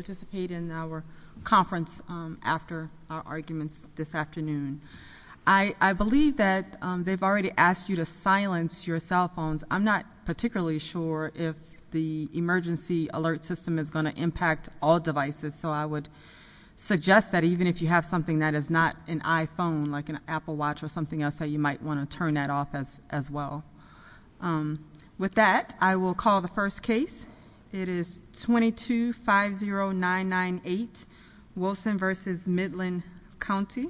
participate in our conference after our arguments this afternoon. I believe that they've already asked you to silence your cell phones. I'm not particularly sure if the emergency alert system is going to impact all devices, so I would suggest that even if you have something that is not an iPhone, like an Apple Watch or something else, that you might want to Wilson v. Midland County.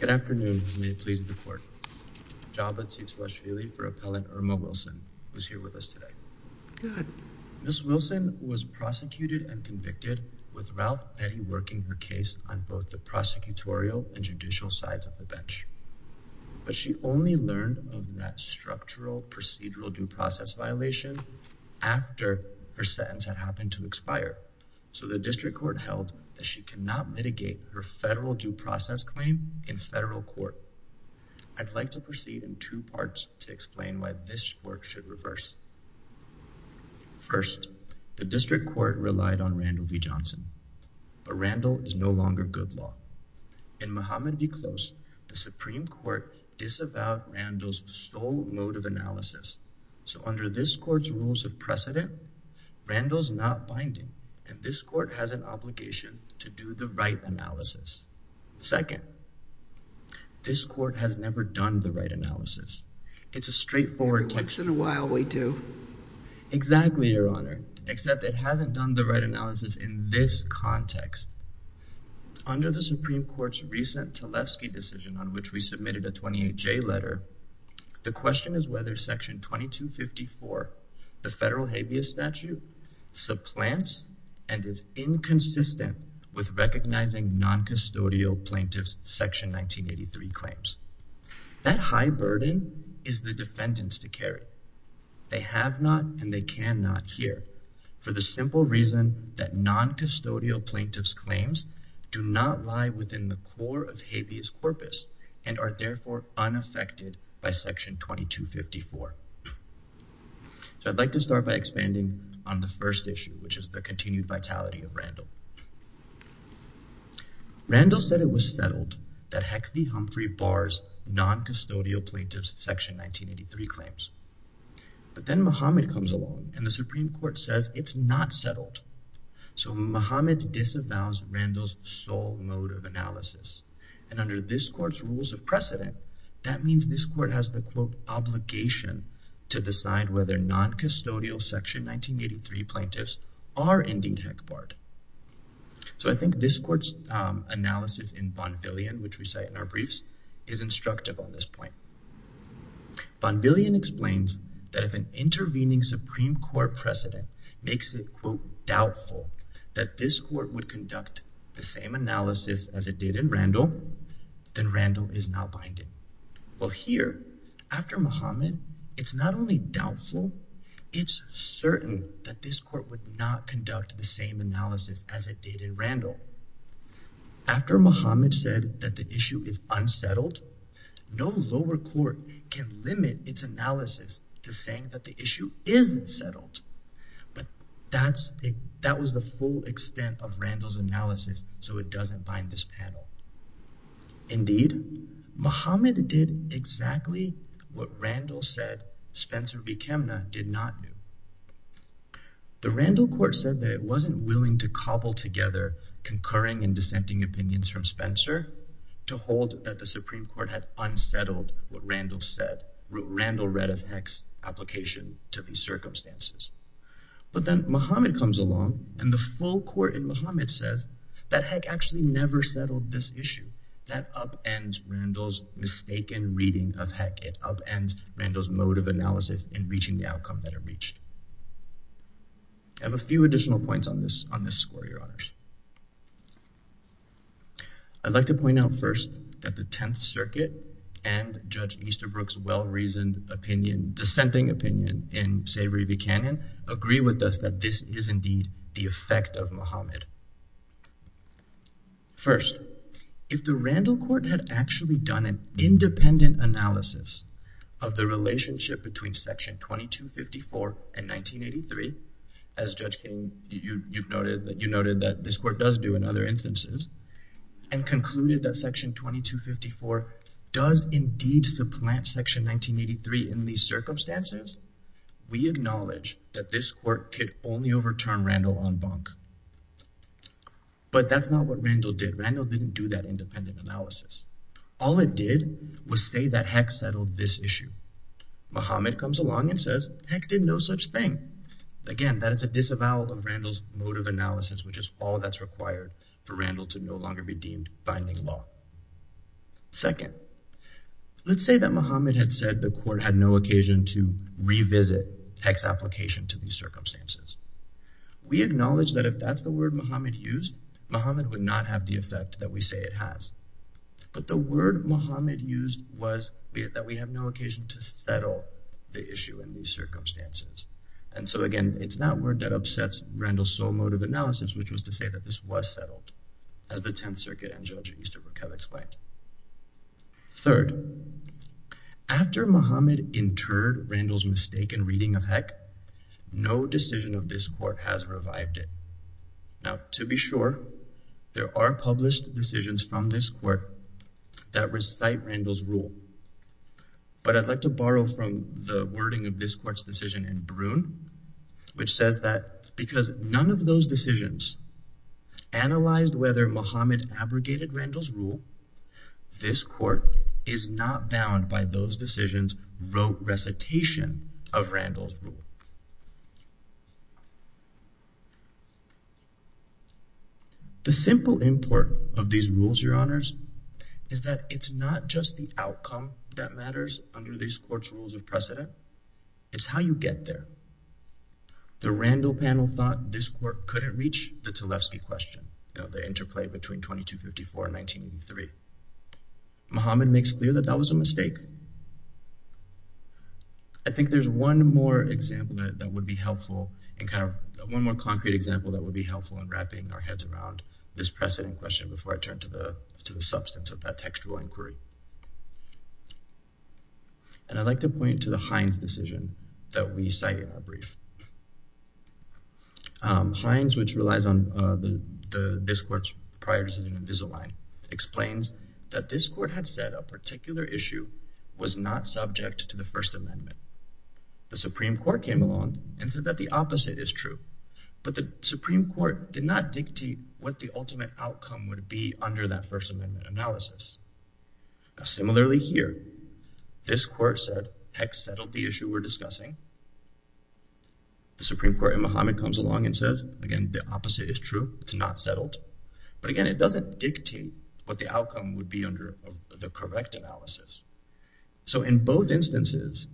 Good afternoon, and may it please the court. Joplin seats West Philly for appellant Irma Wilson, who's here with us today. Good. Ms. Wilson was prosecuted and convicted with Ralph Betty working her case on both the prosecutorial and judicial sides of the bench. But she only learned of that structural procedural due process violation after her sentence had happened to expire. So the district court held that she cannot mitigate her federal due process claim in federal court. I'd like to proceed in two parts to explain why this work should reverse. First, the district court relied on Randall v. Johnson, but Randall is no longer good law. In Muhammad v. Close, the Supreme Court disavowed Randall's sole mode of analysis. So under this court's rules of precedent, Randall's not binding, and this court has an obligation to do the right analysis. Second, this court has never done the right analysis. It's a straightforward text in a while. We do exactly your honor, except it hasn't done the right analysis in this context. Under the Supreme Court's recent Tlaib ski decision on which we submitted a 28 J letter. The question is whether Section 22 54 the federal habeas corpus statute supplants and is inconsistent with recognizing noncustodial plaintiffs. Section 1983 claims that high burden is the defendants to carry. They have not and they cannot hear for the simple reason that noncustodial plaintiffs claims do not lie within the core of habeas corpus and are therefore unaffected by Section 22 54. So I'd like to start by expanding on the first issue, which is the continued vitality of Randall. Randall said it was settled that Heckley Humphrey bars noncustodial plaintiffs. Section 1983 claims. But then Muhammad comes along and the Supreme Court says it's not settled. So Muhammad disavows Randall's sole mode of analysis. And under this court's rules of precedent, that means this court has the quote obligation to decide whether noncustodial Section 1983 plaintiffs are ending heck part. So I think this court's analysis in bond billion, which we cite in our briefs, is instructive on this point. Bond billion explains that if an intervening Supreme Court precedent makes it doubtful that this court would conduct the same analysis as it did in Randall, then Randall is now binding. Well, here after Muhammad, it's not only doubtful, it's certain that this court would not conduct the same analysis as it did in Randall. After Muhammad said that the issue is unsettled, no lower court can limit its analysis to saying that the issue isn't settled. But that's that was the full extent of Randall's analysis, so it doesn't bind this panel. Indeed, Muhammad did exactly what Randall said Spencer B. Chemna did not do. The Randall court said that it wasn't willing to cobble together concurring and dissenting opinions from Spencer to hold that the Supreme Court had unsettled what Randall said. Randall read his application to these circumstances. But then Muhammad comes along and the full court in Muhammad says that heck actually never settled this issue. That upends Randall's mistaken reading of heck. It upends Randall's mode of analysis in reaching the outcome that it reached. I have a few additional points on this on this score, your honors. I'd like to point out first that the Tenth Circuit and Judge Easterbrook's well-reasoned opinion dissenting opinion in Savory v. Canyon agree with us that this is indeed the effect of Muhammad. First, if the Randall court had actually done an independent analysis of the relationship between Section 2254 and 1983, as Judge King, you noted that you noted that this court does do in other instances and concluded that Section 2254 does indeed supplant Section 1983 in these circumstances, we acknowledge that this court could only overturn Randall on bunk. But that's not what Randall did. Randall didn't do that independent analysis. All it did was say that heck settled this issue. Muhammad comes along and says heck did no such thing. Again, that is a disavowal of Randall's mode of analysis, which is all that's required for Randall to no longer be deemed binding law. Second, let's say that Muhammad had said the court had no occasion to revisit heck's application to these circumstances. We acknowledge that if that's the word Muhammad used, Muhammad would not have the effect that we say it has. But the word Muhammad used was that we have no occasion to settle the issue in these circumstances. And so again, it's that word that upsets Randall's sole mode of analysis, which was to say that this was settled as the 10th Circuit and Judge Easterbrook have explained. Third, after Muhammad interred Randall's mistake in reading of heck, no decision of this court has revived it. Now to be sure, there are published decisions from this court that recite Randall's rule. But I'd like to borrow from the that because none of those decisions analyzed whether Muhammad abrogated Randall's rule, this court is not bound by those decisions wrote recitation of Randall's rule. The simple import of these rules, your honors, is that it's not just the outcome that matters under these courts rules of precedent. It's how you get there. The Randall panel thought this court couldn't reach the Tlefsky question, you know, the interplay between 2254 and 1983. Muhammad makes clear that that was a mistake. I think there's one more example that would be helpful in kind of one more concrete example that would be helpful in wrapping our heads around this precedent question before I substance of that textual inquiry. And I'd like to point to the Heinz decision that we cite in our brief. Heinz, which relies on this court's prior decision in Invisalign, explains that this court had said a particular issue was not subject to the First Amendment. The Supreme Court came along and said that the opposite is true. But the Supreme Court did not dictate what the ultimate outcome would be under that First Amendment analysis. Similarly here, this court said, heck, settled the issue we're discussing. The Supreme Court in Muhammad comes along and says, again, the opposite is true. It's not settled. But again, it doesn't dictate what the outcome would be under the correct analysis. So in both instances,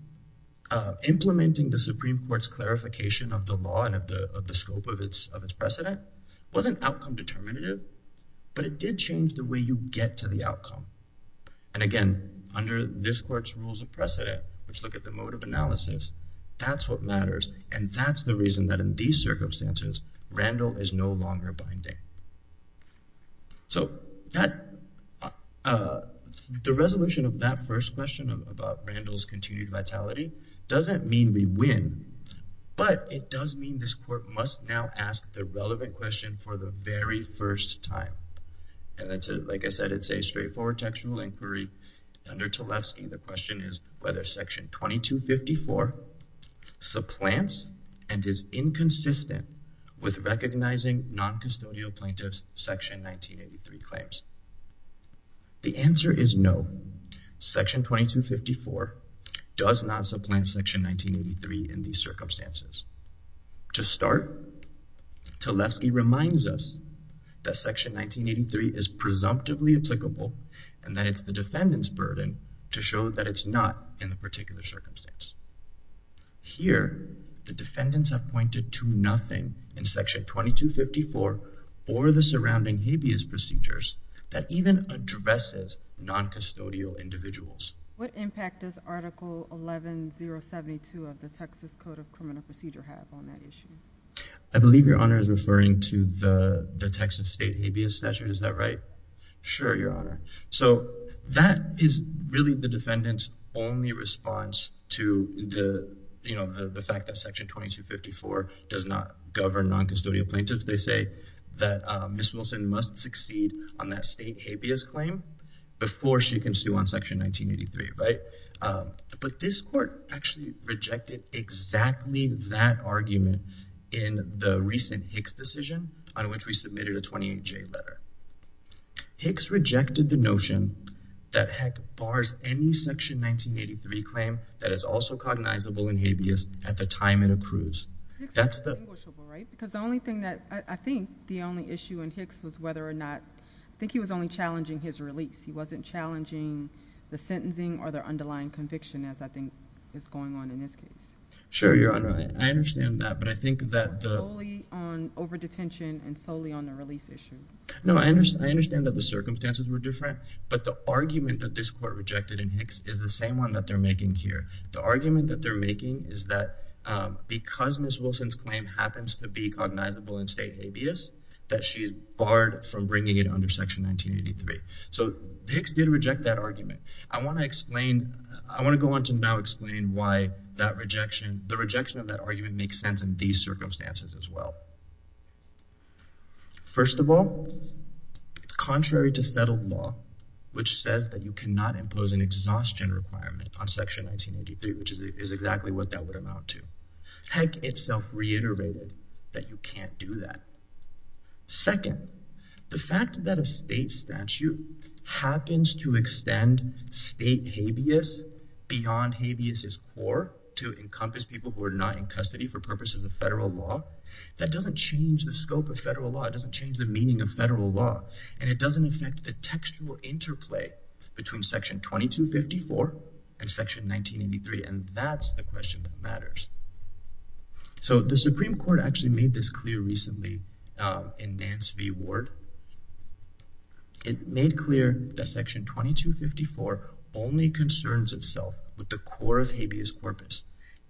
implementing the Supreme Court's clarification of the law and of the scope of this precedent wasn't outcome determinative. But it did change the way you get to the outcome. And again, under this court's rules of precedent, which look at the mode of analysis, that's what matters. And that's the reason that in these circumstances, Randall is no longer binding. So the resolution of that first question about Randall's continued vitality doesn't mean we win. But it does mean this court must now ask the relevant question for the very first time. And that's, like I said, it's a straightforward textual inquiry. Under Tlefsky, the question is whether Section 2254 supplants and is inconsistent with recognizing non-custodial plaintiffs' Section 1983 claims. The answer is no. Section 2254 does not supplant Section 1983 in these circumstances. To start, Tlefsky reminds us that Section 1983 is presumptively applicable and that it's the defendant's burden to show that it's not in the particular circumstance. Here, the defendants have pointed to nothing in Section 2254 or the surrounding habeas procedures that even addresses non-custodial individuals. What impact does Article 11-072 of the Texas Code of Criminal Procedure have on that issue? I believe Your Honor is referring to the Texas state habeas statute. Is that right? Sure, Your Honor. So that is really the defendant's only response to the, the fact that Section 2254 does not govern non-custodial plaintiffs. They say that Ms. Wilson must succeed on that state habeas claim before she can sue on Section 1983, right? But this court actually rejected exactly that argument in the recent Hicks decision on which we submitted a 28-J letter. Hicks rejected the notion that, heck, bars any Section 1983 claim that is also cognizable in habeas at the time it accrues. Hicks is distinguishable, right? Because the only thing that, I think the only issue in Hicks was whether or not, I think he was only challenging his release. He wasn't challenging the sentencing or their underlying conviction, as I think is going on in this case. Sure, Your Honor. I understand that, but I think that the solely on over-detention and solely on the release issue. No, I understand, I understand that the circumstances were different, but the argument that this court rejected in Hicks is the same one that they're making here. The argument that they're making is that because Ms. Wilson's claim happens to be cognizable in state habeas, that she is barred from bringing it under Section 1983. So, Hicks did reject that argument. I want to explain, I want to go on to now explain why that rejection, the rejection of that argument makes sense in these circumstances as well. First of all, contrary to settled law, which says that you cannot impose an exhaustion requirement on Section 1983, which is exactly what that would amount to. Hick itself reiterated that you can't do that. Second, the fact that a state statute happens to extend state habeas beyond habeas' core to encompass people who are not in custody for purposes of federal law, that does not change the scope of federal law. It doesn't change the meaning of federal law, and it doesn't affect the textual interplay between Section 2254 and Section 1983, and that's the question that matters. So, the Supreme Court actually made this clear recently in Nance v. Ward. It made clear that Section 2254 only concerns itself with the core of habeas corpus,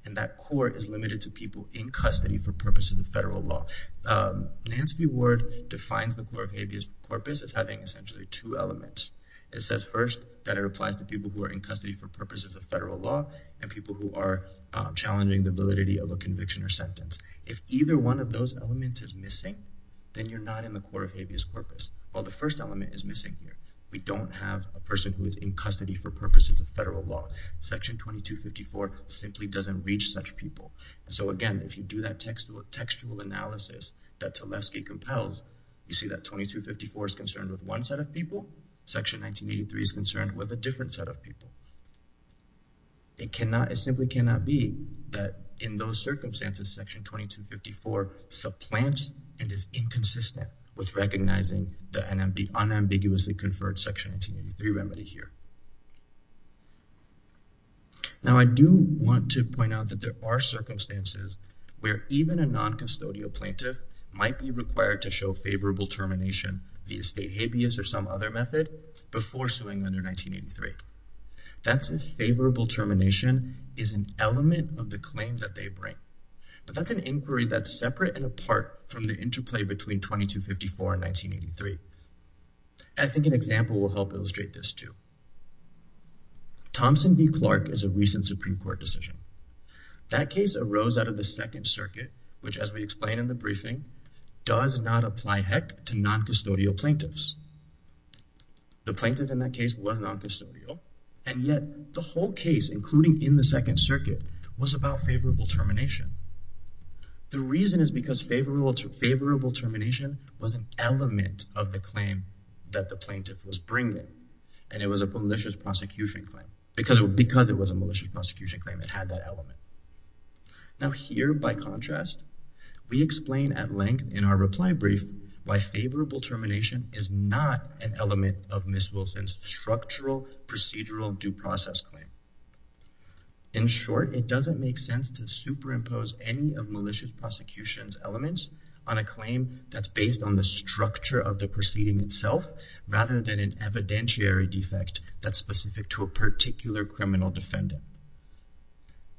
and that core is limited to purposes of federal law. Nance v. Ward defines the core of habeas corpus as having essentially two elements. It says first that it applies to people who are in custody for purposes of federal law and people who are challenging the validity of a conviction or sentence. If either one of those elements is missing, then you're not in the core of habeas corpus. Well, the first element is missing here. We don't have a person who is in custody for purposes of federal law. Section 2254 simply doesn't reach such people, and so, again, if you do that textual analysis that Tulesky compels, you see that 2254 is concerned with one set of people. Section 1983 is concerned with a different set of people. It simply cannot be that in those circumstances, Section 2254 supplants and is inconsistent with recognizing the unambiguously conferred Section 1983 remedy here. Now, I do want to point out that there are circumstances where even a non-custodial plaintiff might be required to show favorable termination via state habeas or some other method before suing under 1983. That's if favorable termination is an element of the claim that they bring, but that's an inquiry that's separate and apart from the interplay between 2254 and 1983. I think an example will help illustrate this, too. Thompson v. Clark is a recent Supreme Court decision. That case arose out of the Second Circuit, which, as we explained in the briefing, does not apply, heck, to non-custodial plaintiffs. The plaintiff in that case was non-custodial, and yet the whole case, including in the Second Circuit, was about favorable termination. The reason is because favorable termination was an element of the claim that the plaintiff was bringing, and it was a malicious prosecution claim because it was a malicious prosecution claim. It had that element. Now, here, by contrast, we explain at length in our reply brief why favorable termination is not an element of Ms. Wilson's structural procedural due process claim. In short, it doesn't make sense to structure the proceeding itself rather than an evidentiary defect that's specific to a particular criminal defendant.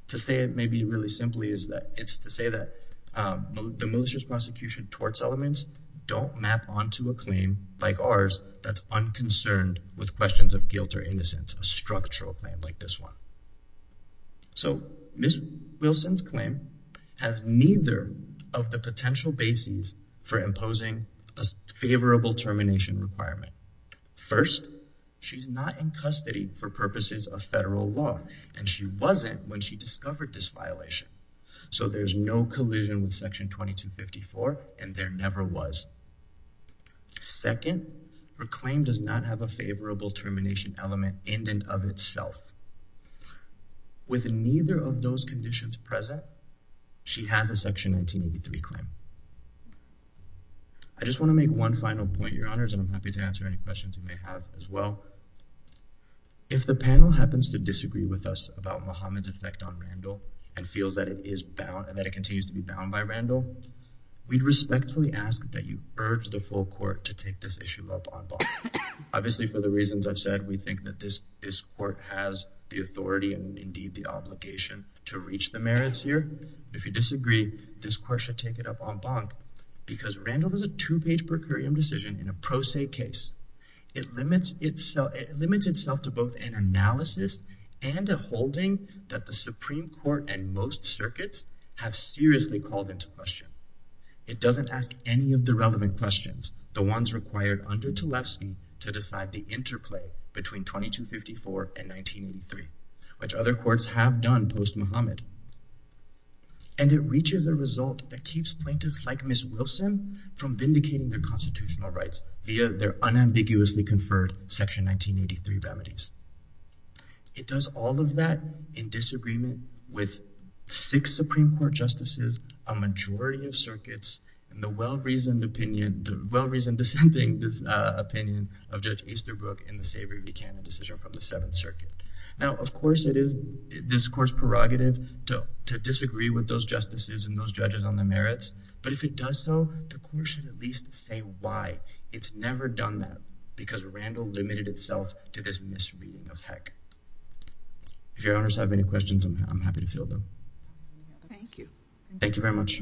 To say it maybe really simply is that it's to say that the malicious prosecution torts elements don't map onto a claim like ours that's unconcerned with questions of guilt or innocence, a structural claim like this one. Ms. Wilson's claim has neither of the potential bases for imposing a favorable termination requirement. First, she's not in custody for purposes of federal law, and she wasn't when she discovered this violation, so there's no collision with Section 2254, and there never was. Second, her claim does not have a favorable termination element in and of itself. With neither of those conditions present, she has a Section 1983 claim. I just want to make one final point, Your Honors, and I'm happy to answer any questions you may have as well. If the panel happens to disagree with us about Muhammad's effect on Randall and feels that it is bound and that it continues to be bound by Randall, we'd respectfully ask that you urge the full court to take this issue up en banc. Obviously, for the reasons I've said, we think that this court has the authority and, indeed, the obligation to reach the merits here. If you disagree, this court should take it up en banc because Randall is a two-page per curiam decision in a pro se case. It limits itself to both an analysis and a holding that the Supreme Court and most circuits have seriously called into question. It doesn't ask any of the relevant questions, the ones required under Tlefsky to have done post-Muhammad, and it reaches a result that keeps plaintiffs like Ms. Wilson from vindicating their constitutional rights via their unambiguously conferred Section 1983 remedies. It does all of that in disagreement with six Supreme Court justices, a majority of circuits, and the well-reasoned dissenting opinion of Judge Easterbrook in the decision from the Seventh Circuit. Now, of course, it is this court's prerogative to disagree with those justices and those judges on the merits, but if it does so, the court should at least say why. It's never done that because Randall limited itself to this misreading of Heck. If your owners have any questions, I'm happy to field them. Thank you. Thank you very much.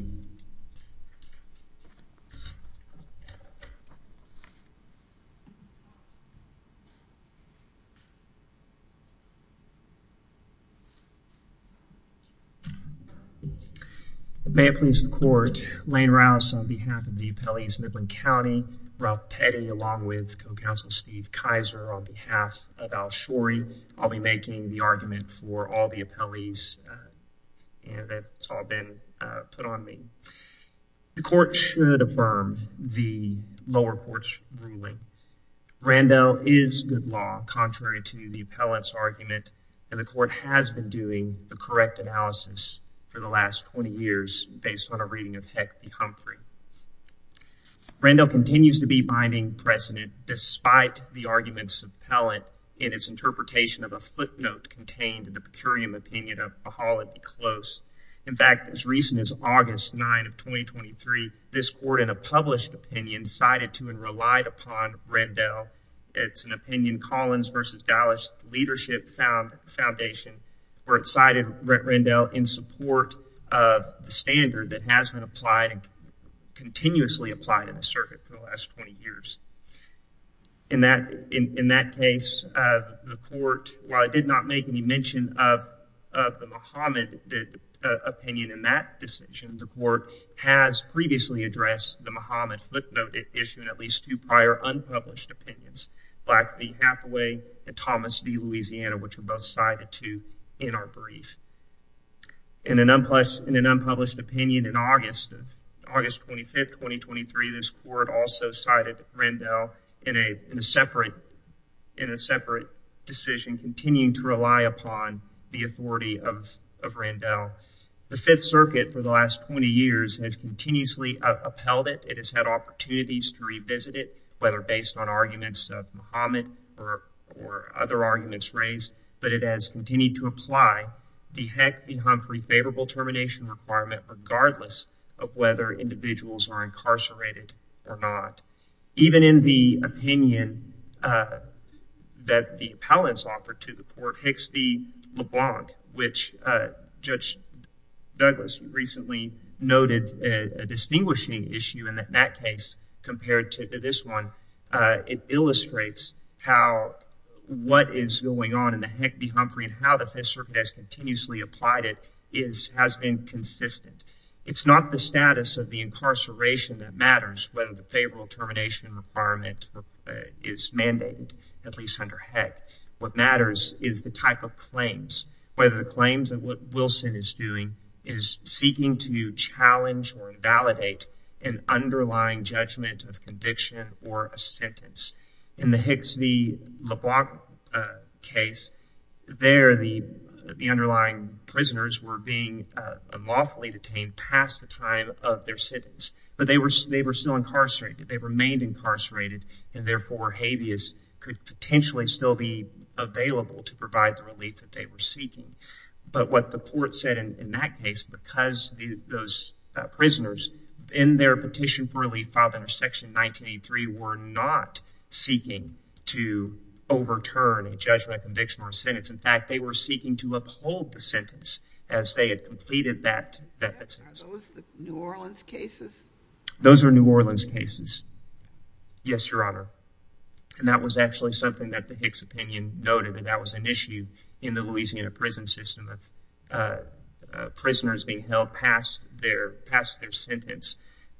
May it please the Court, Lane Rouse on behalf of the appellees of Midland County, Ralph Petty, along with Co-Counsel Steve Kaiser on behalf of Al Shoury. I'll be making the argument for all the appellees and that's all been put on me. The court should affirm the lower court's ruling. Randall is good law, contrary to the appellate's argument, and the court has been doing the correct analysis for the last 20 years based on a reading of Heck v. Humphrey. Randall continues to be to the pecurium opinion of Pahala v. Close. In fact, as recent as August 9 of 2023, this court in a published opinion cited to and relied upon Randall. It's an opinion Collins v. Dallas Leadership Foundation where it cited Randall in support of the standard that has been applied and continuously applied in the circuit for the last 20 years. In that case, the court, while it did not make any mention of the Muhammad opinion in that decision, the court has previously addressed the Muhammad footnote issue in at least two prior unpublished opinions, Black v. Hathaway and Thomas v. Louisiana, which were both cited to in our brief. In an unpublished opinion in August of August 25, 2023, this court also cited Randall in a separate decision, continuing to rely upon the authority of Randall. The Fifth Circuit for the last 20 years has continuously upheld it. It has had opportunities to revisit it, whether based on arguments of Muhammad or other arguments raised, but it has continued to apply the Heck v. Humphrey favorable termination requirement regardless of whether individuals are incarcerated or not. Even in the opinion that the appellants offered to the court, Hicks v. LeBlanc, which Judge Douglas recently noted a distinguishing issue in that case compared to this one, it illustrates how what is going on in the Heck v. Humphrey and how the Fifth Circuit has continuously applied it is has been consistent. It's not the status of the incarceration that matters, whether the favorable termination requirement is mandated, at least under Heck. What matters is the type of claims, whether the claims of what Wilson is doing is seeking to challenge or invalidate an underlying judgment of conviction or a sentence. In the Hicks v. LeBlanc case, there the underlying prisoners were being unlawfully detained past the time of their sentence, but they were still incarcerated. They remained incarcerated and therefore habeas could potentially still be available to provide the relief that they were seeking. But what the court said in that case, because those prisoners in their petition for relief filed under section 1983 were not seeking to overturn a judgment, conviction, or sentence. In fact, they were seeking to uphold the sentence as they had completed that sentence. Are those the New Orleans cases? Those are New Orleans cases. Yes, Your Honor. And that was actually something that the Hicks noted that that was an issue in the Louisiana prison system of prisoners being held past their sentence.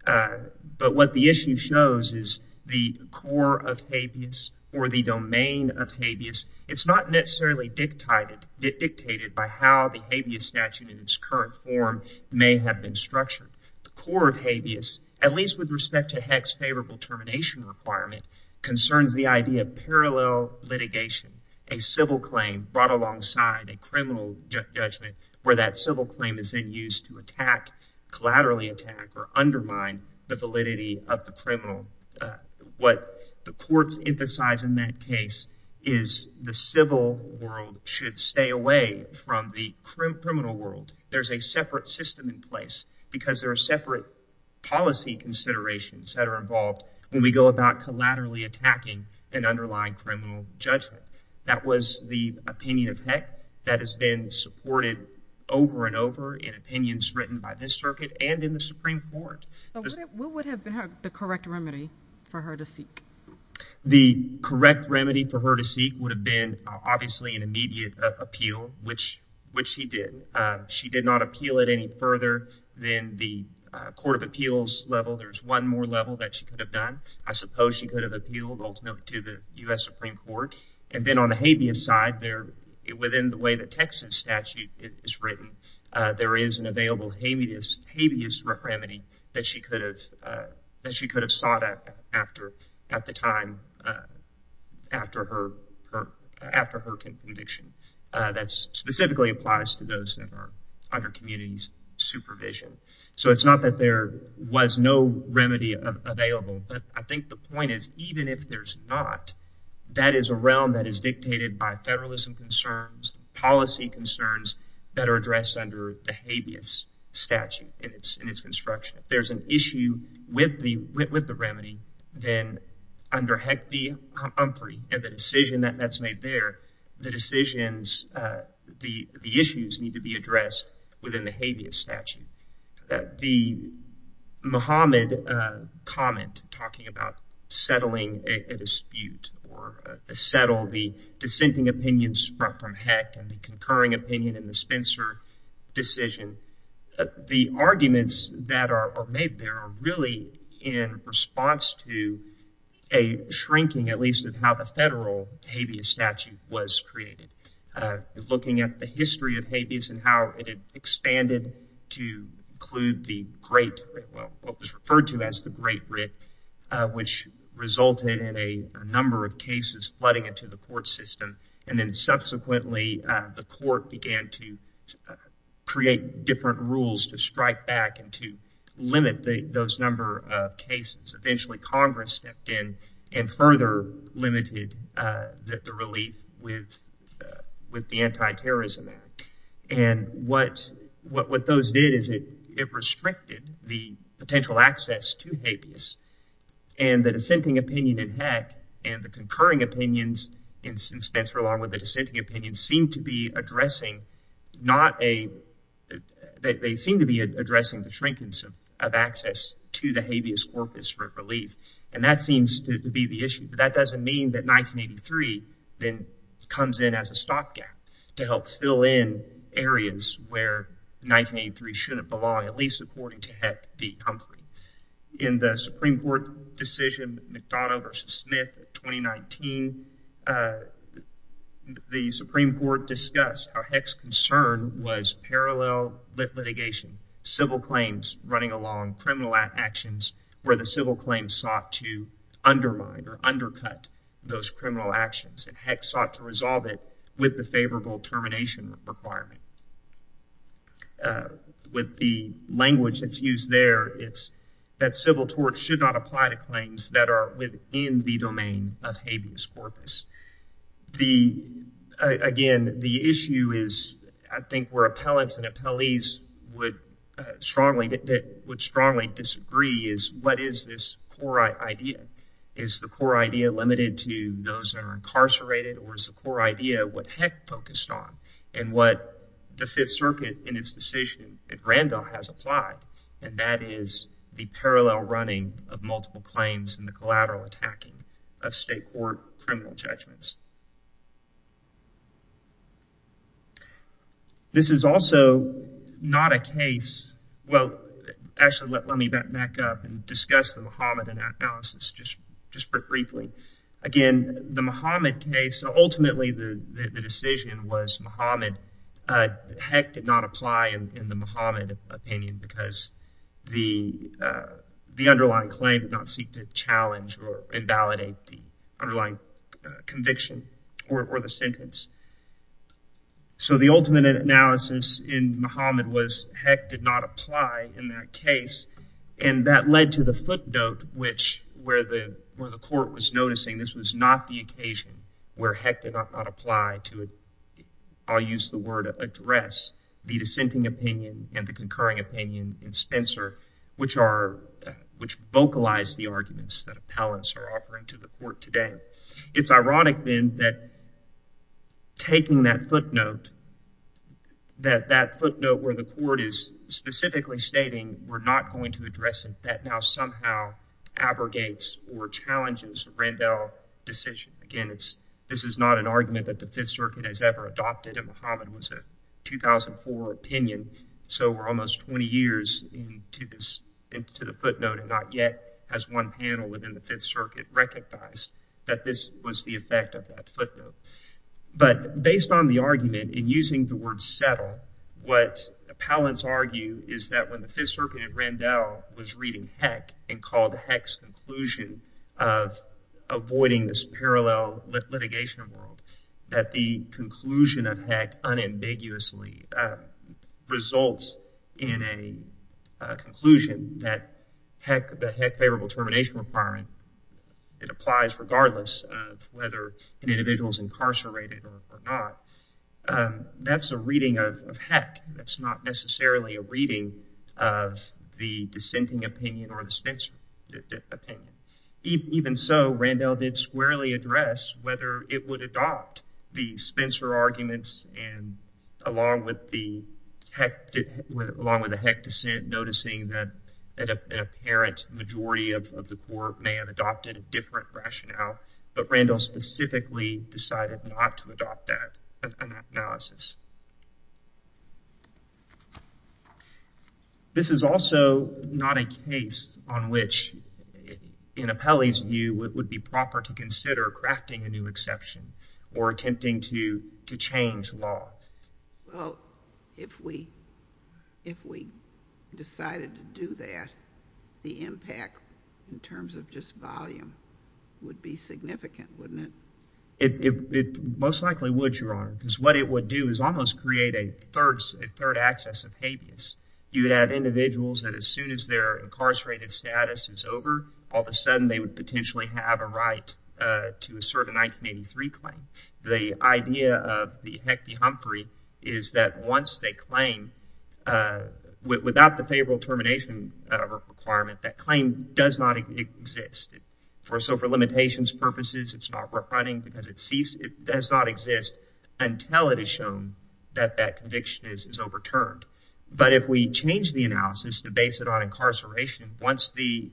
But what the issue shows is the core of habeas or the domain of habeas. It's not necessarily dictated by how the habeas statute in its current form may have been structured. The core of habeas, at least with respect to Heck's favorable requirement, concerns the idea of parallel litigation, a civil claim brought alongside a criminal judgment where that civil claim is then used to attack, collaterally attack, or undermine the validity of the criminal. What the courts emphasize in that case is the civil world should stay away from the criminal world. There's a separate system in place because there are separate policy considerations that are involved when we go about collaterally attacking an underlying criminal judgment. That was the opinion of Heck that has been supported over and over in opinions written by this circuit and in the Supreme Court. What would have been the correct remedy for her to seek? The correct remedy for her to seek would have been obviously an immediate appeal, which she did. She did not appeal it any further than the Court of Appeals level. There's one more level that she could have done. I suppose she could have appealed ultimately to the U.S. Supreme Court. And then on the habeas side, within the way the Texas statute is written, there is an available habeas remedy that she could have sought after her conviction. That specifically applies to those that are under community supervision. So it's not that there was no remedy available, but I think the point is, even if there's not, that is a realm that is dictated by federalism concerns, policy concerns that are addressed under the habeas statute in its construction. If there's an issue with the remedy, then under Heck v. Humphrey and the decision that's made there, the decisions, the issues need to be addressed within the habeas statute. The Muhammad comment talking about settling a dispute or settle the dissenting opinions from Heck and the concurring opinion in the Spencer decision, the arguments that are made there are really in response to a shrinking, at least of how the federal habeas statute was created. Looking at the history of habeas and how it expanded to include the Great, well, what was referred to as the Great Writ, which resulted in a number of cases flooding into the court system. And then subsequently, the court began to create different rules to strike back and to limit those number of cases. Eventually, Congress stepped in and further limited the relief with the Anti-Terrorism Act. And what those did is it restricted the potential access to habeas. And the dissenting opinion in the Supreme Court seemed to be addressing the shrinkage of access to the habeas corpus for relief. And that seems to be the issue. But that doesn't mean that 1983 then comes in as a stopgap to help fill in areas where 1983 shouldn't belong, at least according to Heck v. Humphrey. In the Supreme Court decision, McDonough v. Smith in 2019, the Supreme Court discussed how Heck's concern was parallel litigation, civil claims running along criminal actions where the civil claims sought to undermine or undercut those criminal actions. And Heck sought to resolve it with the favorable termination requirement. And with the language that's used there, it's that civil torts should not apply to claims that are within the domain of habeas corpus. Again, the issue is, I think, where appellants and appellees would strongly disagree is, what is this core idea? Is the core idea limited to those that are incarcerated? Or is the core idea what Heck focused on and what the Fifth Circuit in its decision at Randolph has applied? And that is the parallel running of multiple claims and the collateral attacking of state court criminal judgments. This is also not a case, well, actually, let me back up and discuss the Mohammedan analysis just briefly. Again, the Mohammed case, ultimately the decision was Mohammed. Heck did not apply in the Mohammed opinion because the underlying claim did not seek to challenge or invalidate the underlying conviction or the sentence. So the ultimate analysis in Mohammed was Heck did not apply in that case. And that led to the footnote where the court was noticing this was not the occasion where Heck did not apply to, I'll use the word address, the dissenting opinion and the concurring opinion in Spencer, which vocalized the arguments that appellants are offering to the court today. It's ironic then that taking that footnote, that footnote where the court is specifically stating we're not going to address it, that now somehow abrogates or challenges Randolph decision. Again, this is not an argument that the Fifth Circuit has ever adopted and Mohammed was a 2004 opinion. So we're almost 20 years into the footnote and not yet has one panel within the Fifth Circuit recognized that this was the effect of that footnote. But based on the argument in using the word settle, what appellants argue is that when the Fifth Circuit at Randolph was reading Heck and called Heck's conclusion of avoiding this parallel litigation world, that the conclusion of Heck unambiguously results in a conclusion that Heck, the Heck favorable termination requirement that applies regardless of whether an individual is incarcerated or not, that's a reading of Heck. That's not necessarily a reading of the dissenting opinion or the Spencer opinion. Even so, Randolph did squarely address whether it would adopt the Spencer arguments and along with the Heck, along with the Randolph opinion that an apparent majority of the court may have adopted a different rationale. But Randolph specifically decided not to adopt that analysis. This is also not a case on which, in Appellee's view, it would be proper to consider crafting a or attempting to change law. Well, if we decided to do that, the impact in terms of just volume would be significant, wouldn't it? It most likely would, Your Honor, because what it would do is almost create a third access of habeas. You would have individuals that as soon as their incarcerated status is over, all of a sudden they would potentially have a right to assert a 1983 claim. The idea of the Heck v. Humphrey is that once they claim without the favorable termination requirement, that claim does not exist. So, for limitations purposes, it's not running because it ceased. It does not exist until it is shown that that conviction is overturned. But if we change the analysis to base it on incarceration, once the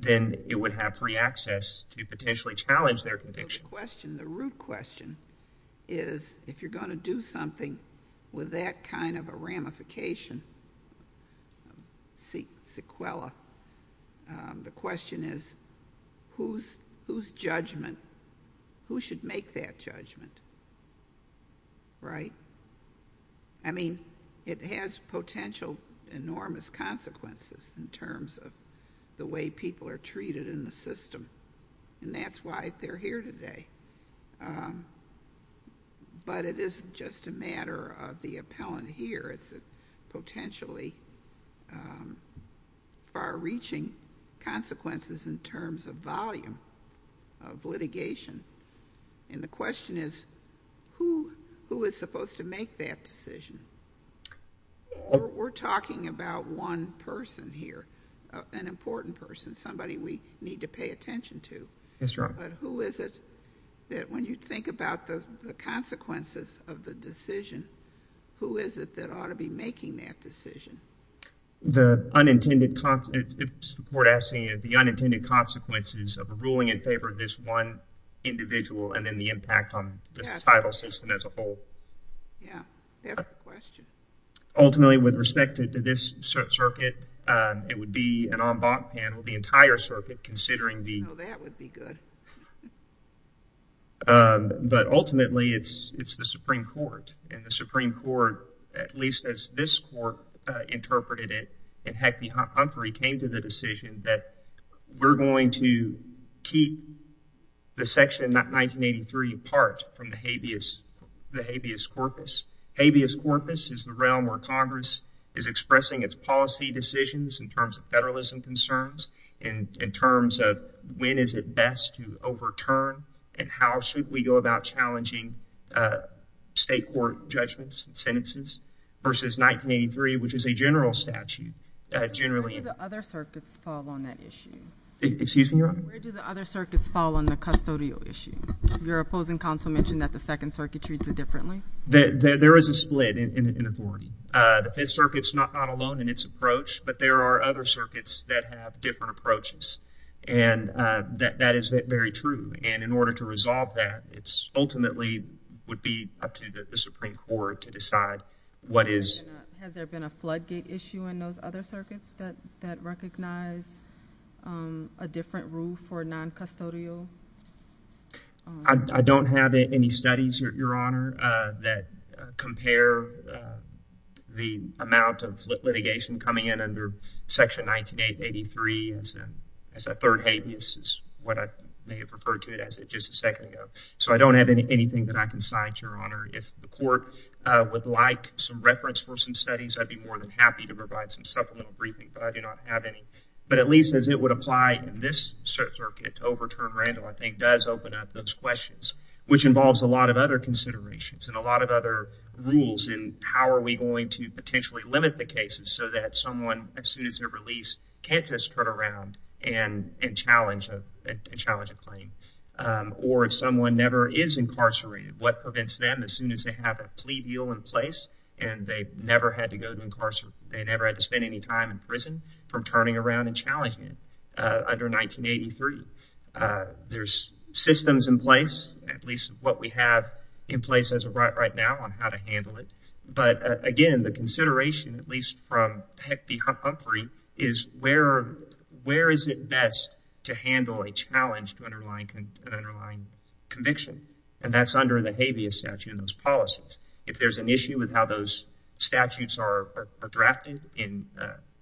then it would have free access to potentially challenge their conviction. The root question is, if you're going to do something with that kind of a ramification, the question is, whose judgment? Who should make that judgment? Right? I mean, it has potential enormous consequences in terms of the way people are treated in the system. And that's why they're here today. But it isn't just a matter of the appellant here. It's a potentially far-reaching consequences in terms of volume of litigation. And the question is, who is supposed to make that decision? We're talking about one person here, an important person, somebody we need to pay attention to. Yes, Your Honor. But who is it that, when you think about the consequences of the decision, who is it that ought to be making that decision? The unintended, if the court asks me, the unintended consequences of ruling in favor of this one individual and then the impact on the societal system as a whole. Yeah, that's the question. Ultimately, with respect to this circuit, it would be an en banc panel, the entire circuit, considering the... No, that would be good. But ultimately, it's the Supreme Court. And the Supreme Court, at least as this court interpreted it, in Heck v. Humphrey, came to the decision that we're going to keep the Section 1983 apart from the habeas corpus. Habeas corpus is the realm where Congress is expressing its policy decisions in terms of federalism concerns, and in terms of when is it best to overturn and how should we go about challenging state court judgments and sentences, versus 1983, which is a general statute, generally... Where do the other circuits fall on that issue? Excuse me, Your Honor? Where do the other circuits fall on the custodial issue? Your opposing counsel mentioned that the Second Circuit treats it differently. There is a split in authority. The Fifth Circuit's not alone in its approach, but there are other circuits that have different approaches. And that is very true. And in order to resolve that, it ultimately would be up to the Supreme Court to decide what is... Has there been a floodgate issue in those other circuits that recognize a different rule for non-custodial? I don't have any studies, Your Honor, that compare the amount of litigation coming in under Section 19883 as a third habeas, is what I may have referred to it as just a second ago. So I don't have anything that I can cite, Your Honor. If the court would like some reference for some studies, I'd be more than happy to provide some supplemental briefing, but I do not have any. But at least as it would apply in this circuit to overturn Randall, I think does open up those questions, which involves a lot of other considerations and a lot of other rules in how are we going to potentially limit the cases so that someone, as soon as they're released, can't just turn around and challenge a claim. Or if someone never is incarcerated, what prevents them as soon as they have a plea deal in place and they never had to go to incarceration, they never had to spend any time in prison from turning around and challenging it under 1983. There's systems in place, at least what we have in place as of right now on how to handle it. But again, the consideration, at least from Peck v. Humphrey, is where is it best to handle a challenge to an underlying conviction? And that's under the habeas statute in those policies. If there's an issue with how those statutes are drafted in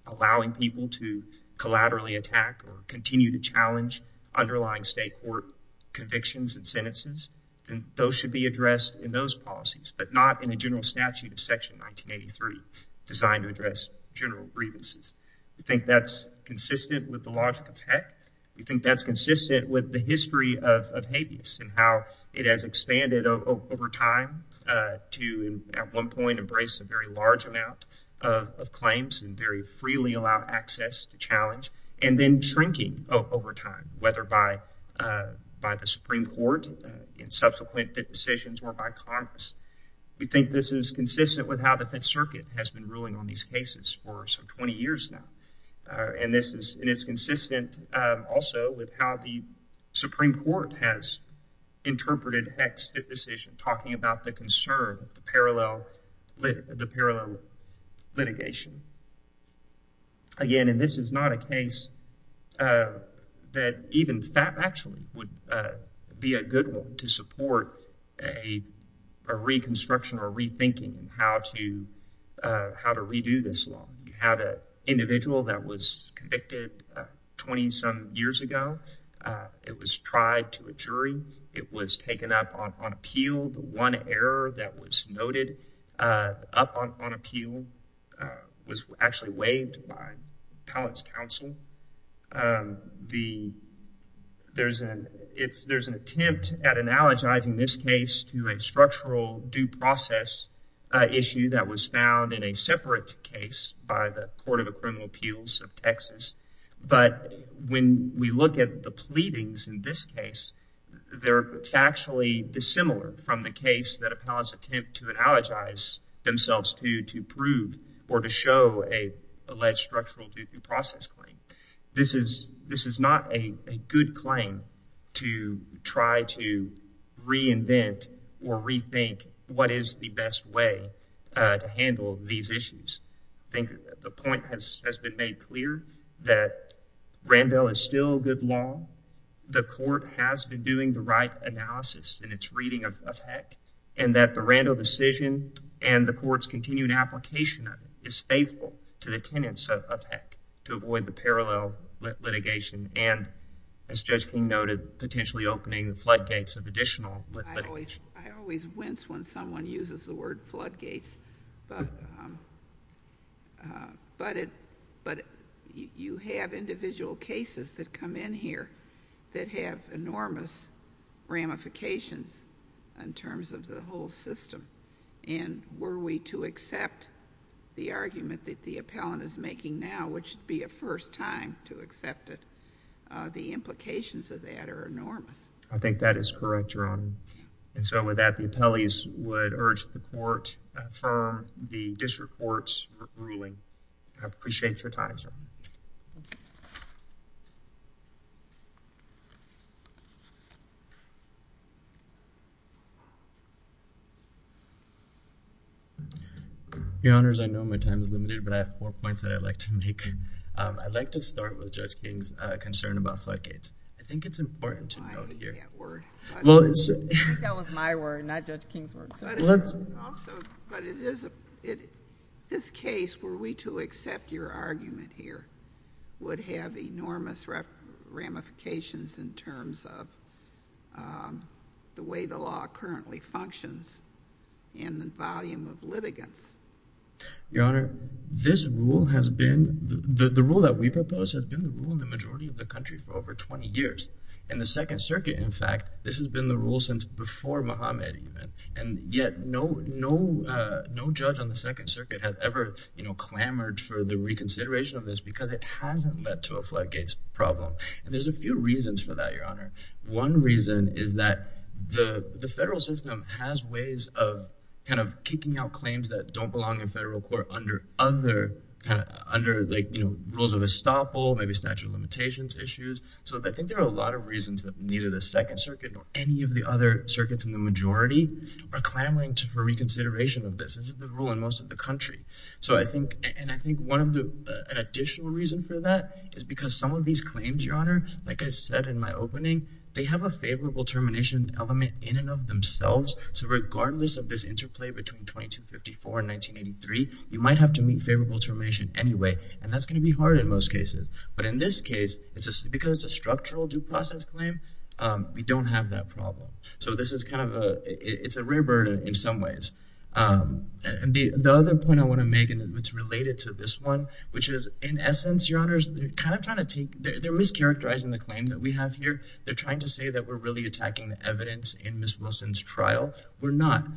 allowing people to collaterally attack or continue to challenge underlying state court convictions and sentences, then those should be addressed in those policies, but not in a general statute of Section 1983 designed to address general grievances. You think that's consistent with the logic of Peck? You think that's consistent with the history of habeas and how it has expanded over time to at one point embrace a very large amount of claims and very freely allow access to challenge and then shrinking over time, whether by the Supreme Court in subsequent decisions or by Congress. We think this is consistent with how the Fifth Circuit has been ruling on these cases for some 20 years now. And it's consistent also with how the Supreme Court has interpreted Peck's decision, talking about the concern of the parallel litigation. Again, and this is not a case that even FAP actually would be a good one to support a reconstruction or rethinking how to redo this law. You had an individual that was convicted 20-some years ago. It was tried to a jury. It was taken up on appeal. The one error that was noted up on appeal was actually waived by Pallett's counsel. There's an attempt at analogizing this case to a structural due process issue that was found in a separate case by the Court of Criminal Appeals of Texas. But when we look at the pleadings in this case, they're factually dissimilar from the case that or to show an alleged structural due process claim. This is not a good claim to try to reinvent or rethink what is the best way to handle these issues. The point has been made clear that Randle is still good law. The court has been doing the right analysis in its reading of Peck and that the Randle decision and the court's continued application of it is faithful to the tenets of Peck to avoid the parallel litigation and, as Judge King noted, potentially opening the floodgates of additional... I always wince when someone uses the word floodgates, but you have individual cases that come in here that have enormous ramifications in terms of the whole system. And were we to accept the argument that the appellant is making now, which would be a first time to accept it, the implications of that are enormous. I think that is correct, Your Honor. And so with that, the appellees would urge the court to affirm the district court's ruling. I appreciate your time, Your Honor. Your Honors, I know my time is limited, but I have four points that I'd like to make. I'd like to start with Judge King's concern about floodgates. I think it's important to note here. I think that was my word, not Judge King's word. But it is... this case, were we to accept your argument here, would have enormous ramifications in terms of the way the law currently functions and the volume of litigants. Your Honor, this rule has been... the rule that we propose has been the rule in the majority of the country for over 20 years. In the Second Circuit, in fact, this has been the rule since before Mohammed even. And yet, no judge on the Second Circuit has ever clamored for the reconsideration of this because it hasn't led to a floodgates problem. And there's a few reasons for that, Your Honor. One reason is that the federal system has ways of kind of kicking out claims that don't belong in federal court under rules of estoppel, maybe statute of limitations issues. So I think there are a lot of reasons that neither the Second Circuit nor any of the other majority are clamoring for reconsideration of this. This is the rule in most of the country. So I think... and I think one of the additional reasons for that is because some of these claims, Your Honor, like I said in my opening, they have a favorable termination element in and of themselves. So regardless of this interplay between 2254 and 1983, you might have to meet favorable termination anyway. And that's going to be hard in most cases. But in this case, because it's a structural due process claim, we don't have that problem. So this is kind of a, it's a rare bird in some ways. And the other point I want to make, and it's related to this one, which is, in essence, Your Honors, they're kind of trying to take... they're mischaracterizing the claim that we have here. They're trying to say that we're really attacking the evidence in Ms. Wilson's trial. We're not.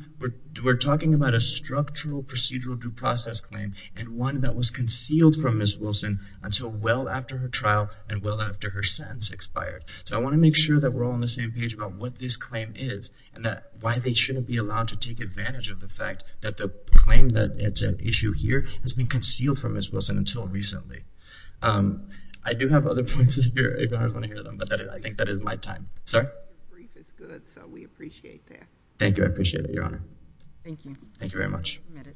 We're talking about a structural procedural due process claim and one that was concealed from Ms. Wilson until well after her trial and well after her sentence expired. So I want to make sure that we're all on the same page about what this claim is and that why they shouldn't be allowed to take advantage of the fact that the claim that it's an issue here has been concealed from Ms. Wilson until recently. I do have other points here if Your Honors want to hear them, but I think that is my time. Sorry? The brief is good, so we appreciate that. Thank you. I appreciate it, Your Honor. Thank you. Thank you very much. Thank you.